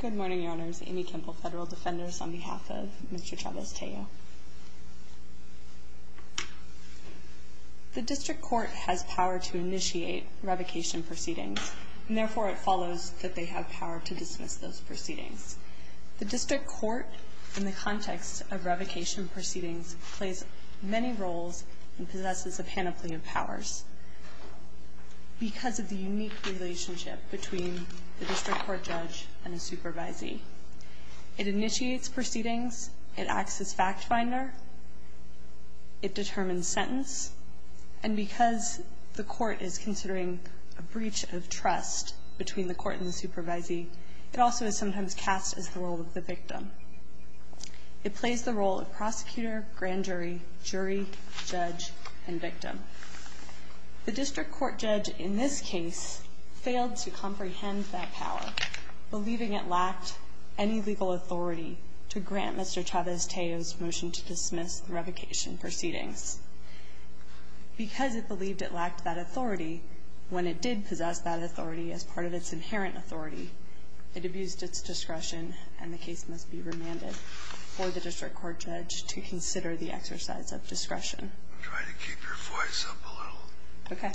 Good morning, Your Honors. Amy Kempel, Federal Defenders, on behalf of Mr. Chavez-Tello. The District Court has power to initiate revocation proceedings, and therefore it follows that they have power to dismiss those proceedings. The District Court, in the context of revocation proceedings, plays many roles and possesses a panoply of powers. Because of the unique relationship between the District Court judge and the supervisee. It initiates proceedings. It acts as fact finder. It determines sentence. And because the court is considering a breach of trust between the court and the supervisee, it also is sometimes cast as the role of the victim. It plays the role of prosecutor, grand jury, jury, judge, and victim. The District Court judge, in this case, failed to comprehend that power, believing it lacked any legal authority to grant Mr. Chavez-Tello's motion to dismiss the revocation proceedings. Because it believed it lacked that authority, when it did possess that authority as part of its inherent authority, it abused its discretion. And the case must be remanded for the District Court judge to consider the exercise of discretion. I'm trying to keep your voice up a little. Okay.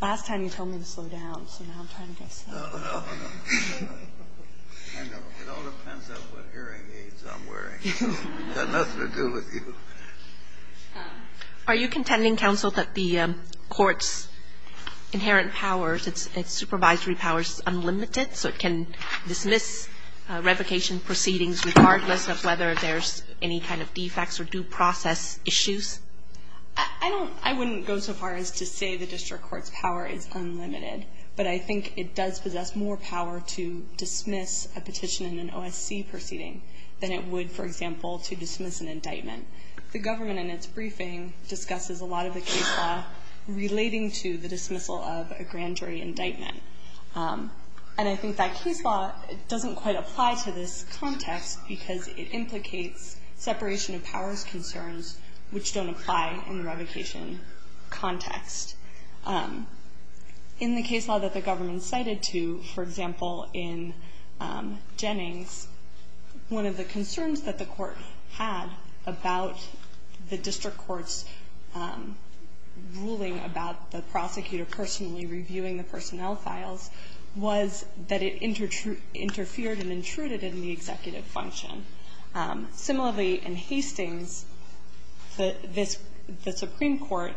Last time you told me to slow down, so now I'm trying to slow down. No, no, no. I know. It all depends on what hearing aids I'm wearing. It's got nothing to do with you. Are you contending, counsel, that the court's inherent powers, its supervisory powers, so it can dismiss revocation proceedings regardless of whether there's any kind of defects or due process issues? I don't – I wouldn't go so far as to say the District Court's power is unlimited. But I think it does possess more power to dismiss a petition in an OSC proceeding than it would, for example, to dismiss an indictment. The government, in its briefing, discusses a lot of the case law relating to the dismissal of a grand jury indictment. And I think that case law doesn't quite apply to this context because it implicates separation of powers concerns which don't apply in the revocation context. In the case law that the government cited to, for example, in Jennings, one of the concerns that the court had about the District Court's ruling about the prosecutor personally reviewing the personnel files was that it interfered and intruded in the executive function. Similarly, in Hastings, the Supreme Court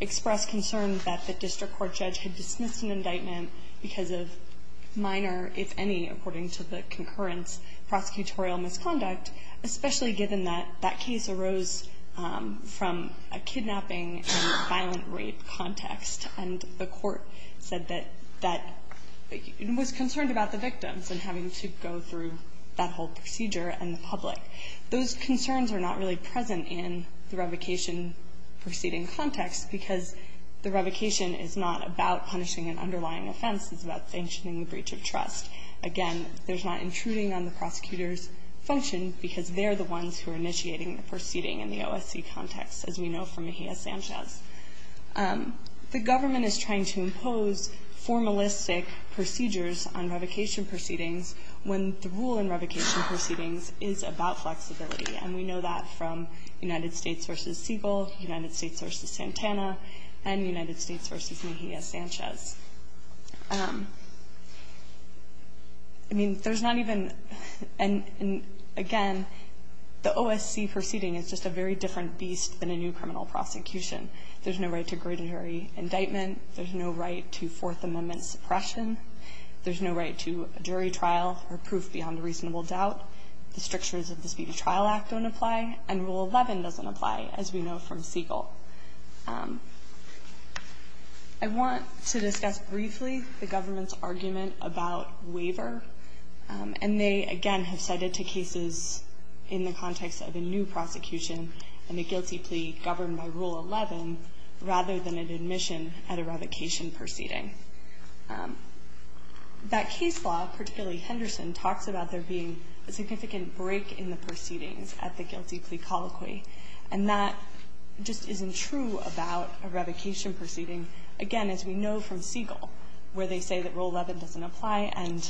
expressed concern that the District Court judge had dismissed an indictment because of minor, if any, according to the concurrence, prosecutorial misconduct, especially given that that case arose from a kidnapping and violent rape context. And the court said that it was concerned about the victims and having to go through that whole procedure and the public. Those concerns are not really present in the revocation proceeding context because the revocation is not about punishing an underlying offense. It's about sanctioning the breach of trust. Again, there's not intruding on the prosecutor's function because they're the ones who are initiating the proceeding in the OSC context, as we know from Mejia-Sanchez. The government is trying to impose formalistic procedures on revocation proceedings when the rule in revocation proceedings is about flexibility. And we know that from United States v. Siegel, United States v. Santana, and United States v. Mejia-Sanchez. I mean, there's not even an – again, the OSC proceeding is just a very different beast than a new criminal prosecution. There's no right to a great jury indictment. There's no right to Fourth Amendment suppression. There's no right to a jury trial or proof beyond a reasonable doubt. The strictures of the Speedy Trial Act don't apply, and Rule 11 doesn't apply, as we know from Siegel. I want to discuss briefly the government's argument about waiver. And they, again, have cited two cases in the context of a new prosecution and a guilty plea governed by Rule 11 rather than an admission at a revocation proceeding. That case law, particularly Henderson, talks about there being a significant break in the proceedings at the guilty plea colloquy, and that just isn't true about a revocation proceeding. Again, as we know from Siegel, where they say that Rule 11 doesn't apply and,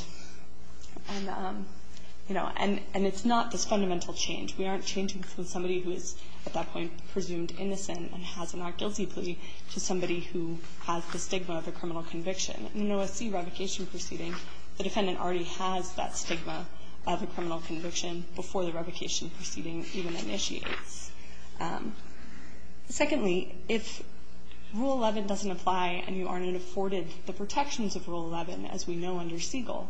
you know, and it's not this fundamental change. We aren't changing from somebody who is at that point presumed innocent and has a not-guilty plea to somebody who has the stigma of a criminal conviction. In an OSC revocation proceeding, the defendant already has that stigma of a criminal conviction before the revocation proceeding even initiates. Secondly, if Rule 11 doesn't apply and you aren't afforded the protections of Rule 11, as we know under Siegel,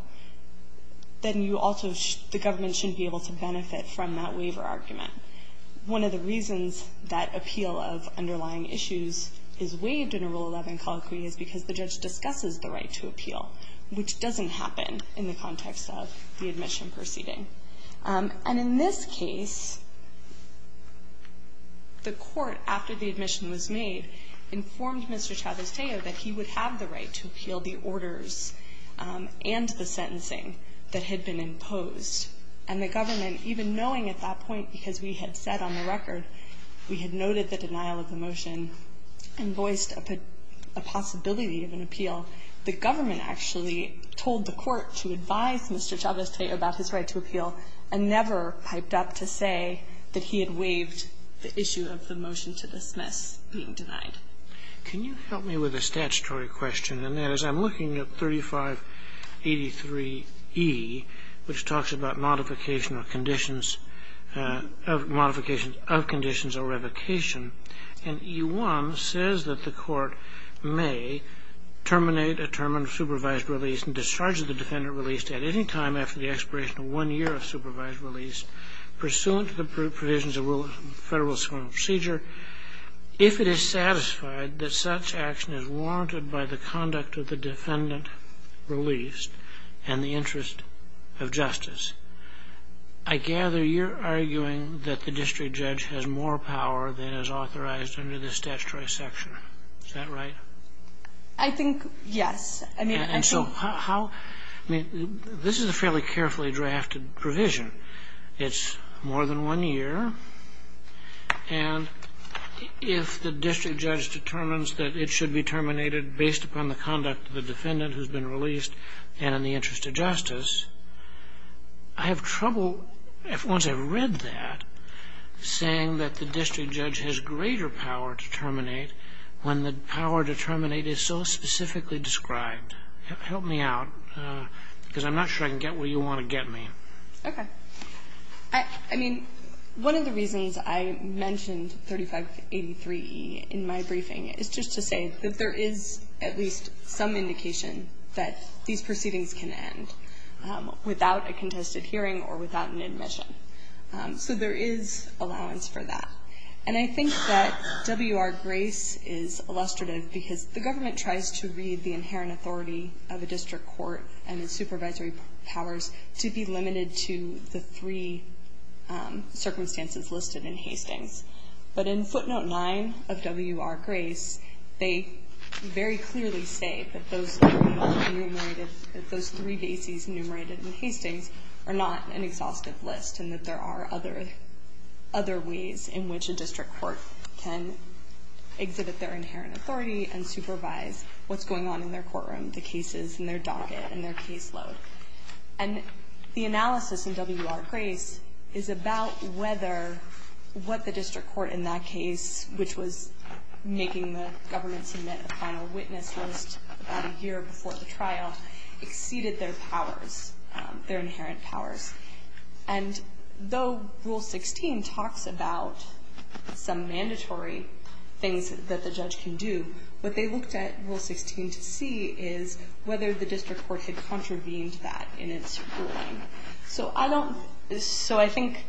then you also the government shouldn't be able to benefit from that waiver argument. One of the reasons that appeal of underlying issues is waived in a Rule 11 colloquy is because the judge discusses the right to appeal, which doesn't happen in the context of the admission proceeding. And in this case, the court, after the admission was made, informed Mr. Chavez-Tejo that he would have the right to appeal the orders and the sentencing that had been imposed. And the government, even knowing at that point, because we had said on the record we had noted the denial of the motion, invoiced a possibility of an appeal, the government actually told the court to advise Mr. Chavez-Tejo about his right to appeal and never piped up to say that he had waived the issue of the motion to dismiss being denied. Can you help me with a statutory question? And that is, I'm looking at 3583e, which talks about modification of conditions of conditions or revocation. And e1 says that the court may terminate a term of supervised release and discharge of the defendant released at any time after the expiration of one year of supervised release pursuant to the provisions of Federal Supreme Procedure if it is satisfied that such action is warranted by the conduct of the defendant released and the interest of justice. I gather you're arguing that the district judge has more power than is authorized under this statutory section. Is that right? I think, yes. And so how – I mean, this is a fairly carefully drafted provision. It's more than one year. And if the district judge determines that it should be terminated based upon the conduct of the defendant who's been released and in the interest of justice, I have trouble, once I've read that, saying that the district judge has greater power to terminate when the power to terminate is so specifically described. Help me out because I'm not sure I can get where you want to get me. Okay. I mean, one of the reasons I mentioned 3583e in my briefing is just to say that there is at least some indication that these proceedings can end without a contested hearing or without an admission. So there is allowance for that. And I think that WR-Grace is illustrative because the government tries to read the inherent authority of a district court and its supervisory powers to be limited to the three circumstances listed in Hastings. But in footnote 9 of WR-Grace, they very clearly say that those three bases enumerated in Hastings are not an exhaustive list and that there are other ways in which a district court can exhibit their inherent authority and supervise what's going on in their courtroom, the cases and their docket and their caseload. And the analysis in WR-Grace is about whether what the district court in that case, which was making the government submit a final witness list about a year before the trial, exceeded their powers, their inherent powers. And though Rule 16 talks about some mandatory things that the judge can do, what they that in its ruling. So I don't so I think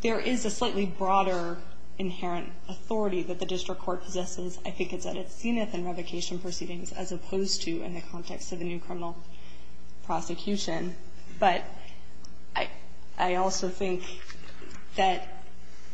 there is a slightly broader inherent authority that the district court possesses. I think it's at its zenith in revocation proceedings as opposed to in the context of the new criminal prosecution. But I also think that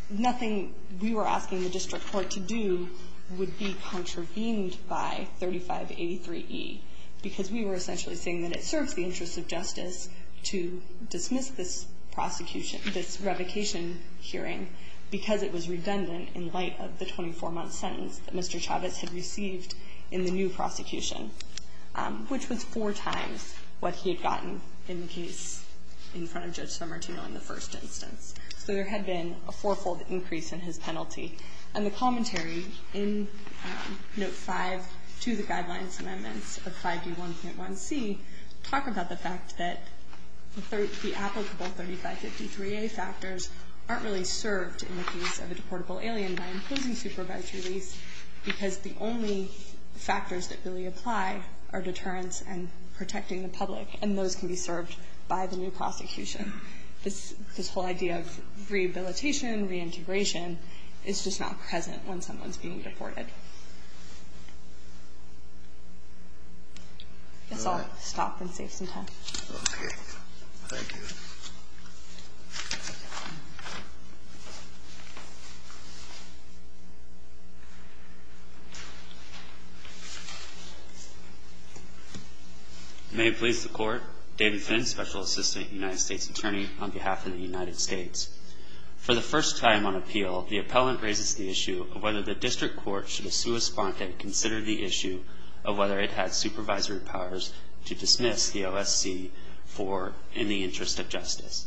nothing we were asking the district court to do would be contravened by 3583E, because we were essentially saying that it serves the interest of justice to dismiss this prosecution, this revocation hearing, because it was redundant in light of the 24-month sentence that Mr. Chavez had received in the new prosecution, which was four times what he had gotten in the case in front of Judge Somertino in the first instance. So there had been a fourfold increase in his penalty. And the commentary in Note 5 to the Guidelines and Amendments of 5E1.1c talk about the fact that the applicable 3553A factors aren't really served in the case of a deportable alien by imposing supervised release, because the only factors that really apply are deterrence and protecting the public. And those can be served by the new prosecution. This whole idea of rehabilitation, reintegration, is just not present when someone's being deported. I guess I'll stop and save some time. Okay. Thank you. May it please the Court, David Finn, Special Assistant United States Attorney on behalf of the United States. For the first time on appeal, the appellant raises the issue of whether the district court should have sui sponte and considered the issue of whether it had supervisory powers to dismiss the OSC for in the interest of justice.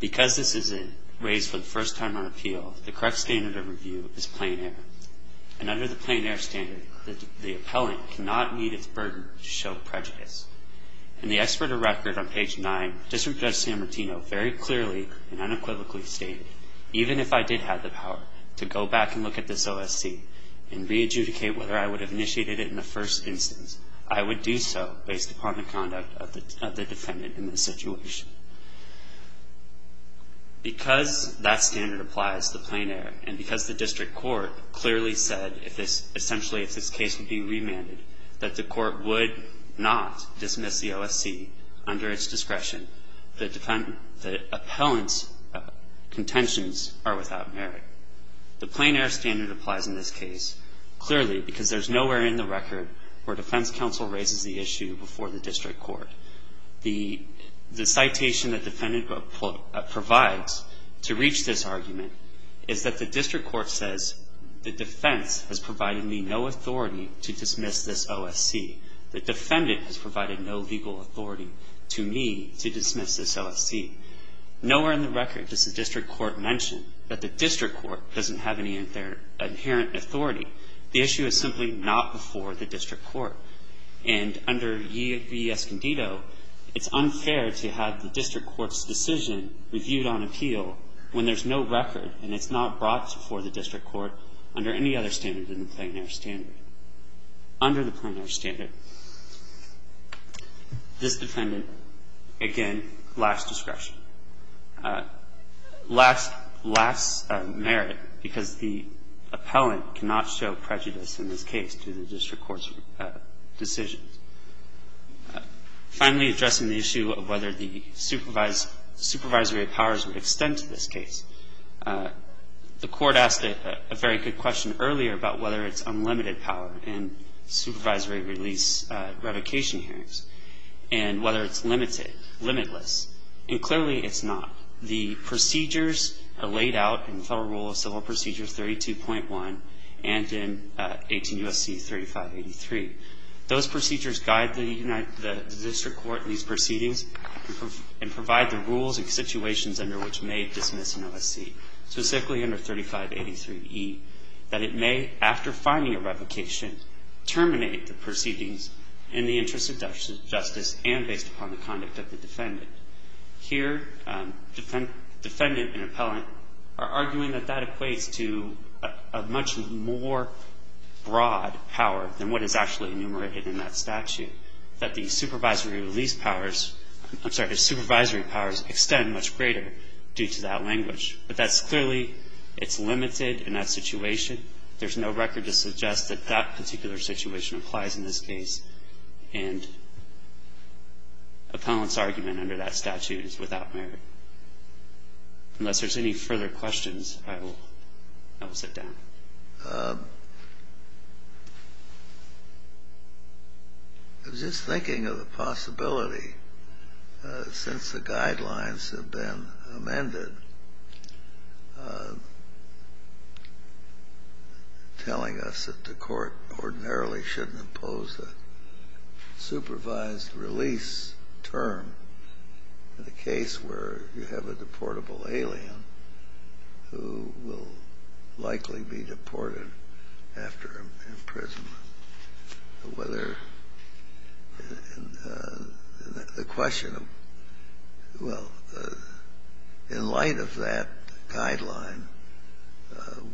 Because this is raised for the first time on appeal, the correct standard of review is plain air. And under the plain air standard, the appellant cannot meet its burden to show prejudice. And the expert of record on page 9, District Judge San Martino, very clearly and unequivocally stated, even if I did have the power to go back and look at this OSC and re-adjudicate whether I would have initiated it in the first instance, I would do so based upon the conduct of the defendant in this situation. Because that standard applies, the plain air, and because the district court clearly said, essentially, if this case would be remanded, that the court would not dismiss the OSC under its discretion, the appellant's contentions are without merit. The plain air standard applies in this case, clearly, because there's nowhere in the record where defense counsel raises the issue before the district court. The citation that defendant provides to reach this argument is that the district court says, the defense has provided me no authority to dismiss this OSC. The defendant has provided no legal authority to me to dismiss this OSC. Nowhere in the record does the district court mention that the district court doesn't have any inherent authority. The issue is simply not before the district court. And under ye v. Escondido, it's unfair to have the district court's decision reviewed on appeal when there's no record and it's not brought before the district court under any other standard than the plain air standard. Under the plain air standard, this defendant, again, lacks discretion, lacks merit, because the appellant cannot show prejudice in this case to the district court's decisions. Finally, addressing the issue of whether the supervisory powers would extend to this case, the Court asked a very good question earlier about whether it's unlimited power in supervisory release revocation hearings and whether it's limited, limitless. And clearly it's not. The procedures are laid out in Federal Rule of Civil Procedure 32.1 and in 18 U.S.C. 3583. Those procedures guide the district court in these proceedings and provide the rules and situations under which it may dismiss an OSC, specifically under 3583e, that it may, after finding a revocation, terminate the proceedings in the interest of justice and based upon the conduct of the defendant. Here, defendant and appellant are arguing that that equates to a much more broad power than what is actually enumerated in that statute, that the supervisory release powers, I'm sorry, the supervisory powers extend much greater due to that language. But that's clearly, it's limited in that situation. There's no record to suggest that that particular situation applies in this case, and appellant's argument under that statute is without merit. Unless there's any further questions, I will sit down. I was just thinking of the possibility, since the guidelines have been amended, telling us that the court ordinarily shouldn't impose a supervised release term in a case where you have a deportable alien who will likely be deported after imprisonment, whether the question of, well, in light of that guideline,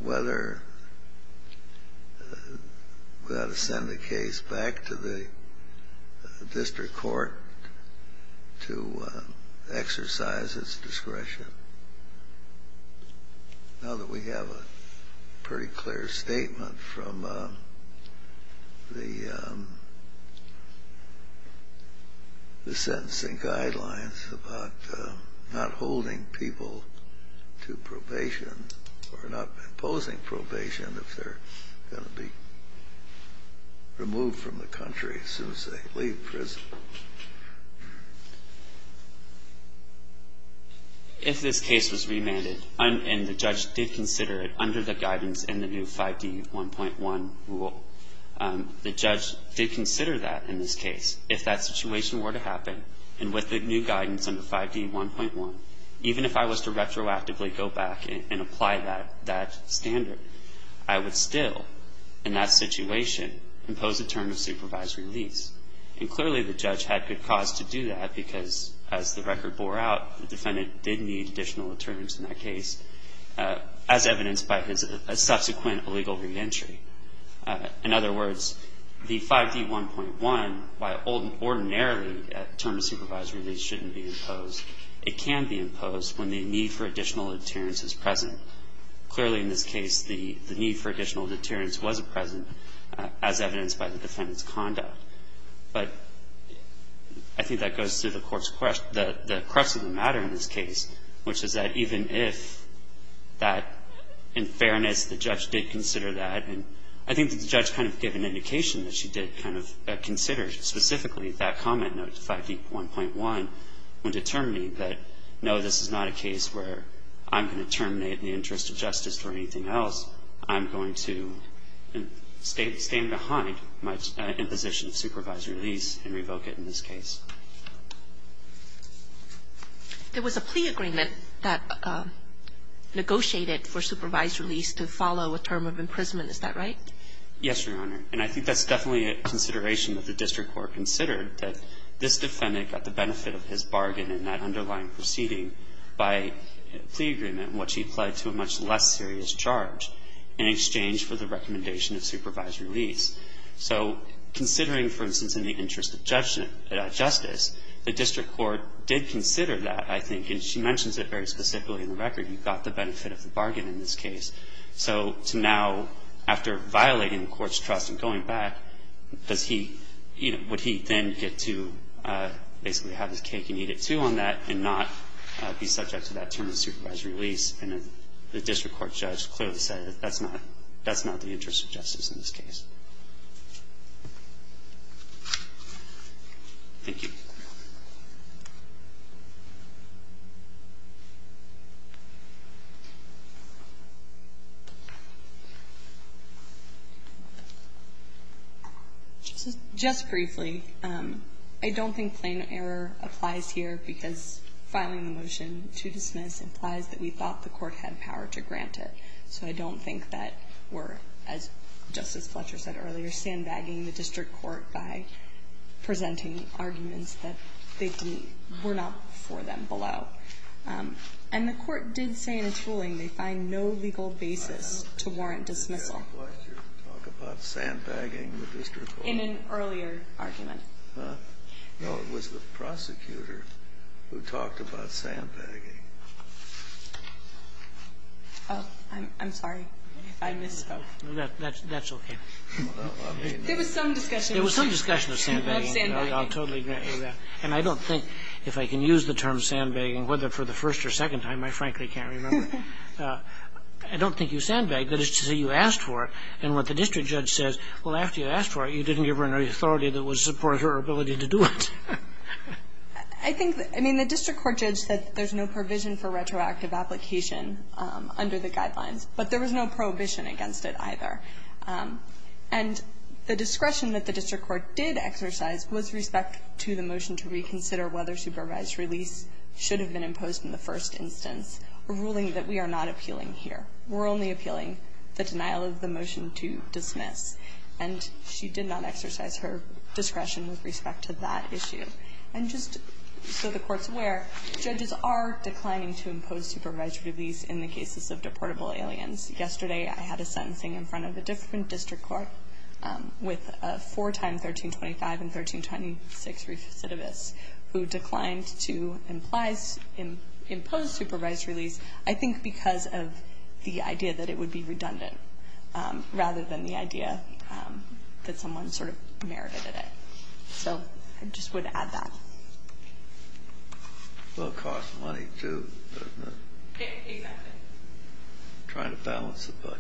whether we ought to send the case back to the district court to exercise its discretion. Now that we have a pretty clear statement from the sentencing guidelines about not holding people to probation or not imposing probation if they're going to be removed from the country as soon as they leave prison. If this case was remanded, and the judge did consider it under the guidance in the new 5D1.1 rule, the judge did consider that in this case. If that situation were to happen, and with the new guidance under 5D1.1, even if I was to retroactively go back and apply that standard, I would still, in that situation, impose a term of supervised release. And clearly, the judge had good cause to do that, because as the record bore out, the defendant did need additional deterrence in that case, as evidenced by his subsequent illegal reentry. In other words, the 5D1.1, while ordinarily a term of supervised release shouldn't be imposed, it can be imposed when the need for additional deterrence is present. Clearly, in this case, the need for additional deterrence wasn't present, as evidenced by the defendant's conduct. But I think that goes to the court's question, the crux of the matter in this case, which is that even if that, in fairness, the judge did consider that, and I think the judge kind of gave an indication that she did kind of consider specifically that comment in 5D1.1 when determining that, no, this is not a case where I'm going to terminate in the interest of justice or anything else, I'm going to stay behind my imposition of supervised release and revoke it in this case. There was a plea agreement that negotiated for supervised release to follow a term of imprisonment. Is that right? Yes, Your Honor. And I think that's definitely a consideration that the district court considered, that this defendant got the benefit of his bargain in that underlying proceeding by a plea agreement in which he applied to a much less serious charge in exchange for the recommendation of supervised release. So considering, for instance, in the interest of justice, the district court did consider that, I think, and she mentions it very specifically in the record. He got the benefit of the bargain in this case. So to now, after violating the court's trust and going back, does he, you know, would he then get to basically have his cake and eat it, too, on that and not be subject to that term of supervised release? And the district court judge clearly said that that's not the interest of justice in this case. Thank you. Just briefly, I don't think plain error applies here because filing the motion to dismiss implies that we thought the court had power to grant it. So I don't think that we're, as Justice Fletcher said earlier, sandbagging the district court by presenting arguments that the district court had power to grant that were not for them below. And the court did say in its ruling they find no legal basis to warrant dismissal. In an earlier argument. No, it was the prosecutor who talked about sandbagging. Oh, I'm sorry. I misspoke. That's okay. There was some discussion. There was some discussion of sandbagging. I'll totally grant you that. And I don't think, if I can use the term sandbagging, whether for the first or second time, I frankly can't remember. I don't think you sandbagged. That is to say you asked for it. And what the district judge says, well, after you asked for it, you didn't give her enough authority that would support her ability to do it. I think, I mean, the district court judge said there's no provision for retroactive application under the guidelines. But there was no prohibition against it either. And the discretion that the district court did exercise was respect to the motion to reconsider whether supervised release should have been imposed in the first instance, a ruling that we are not appealing here. We're only appealing the denial of the motion to dismiss. And she did not exercise her discretion with respect to that issue. And just so the Court's aware, judges are declining to impose supervised release in the cases of deportable aliens. Yesterday I had a sentencing in front of a different district court with a four-time 1325 and 1326 recidivists who declined to impose supervised release, I think because of the idea that it would be redundant rather than the idea that someone sort of merited it. So I just would add that. It will cost money too, doesn't it? Exactly. Trying to balance the budget.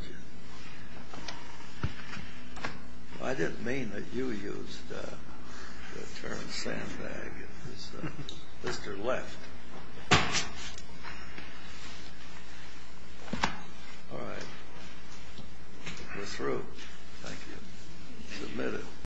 I didn't mean that you used the term sandbag. Mr. Left. All right. We're through. Thank you. Submitted.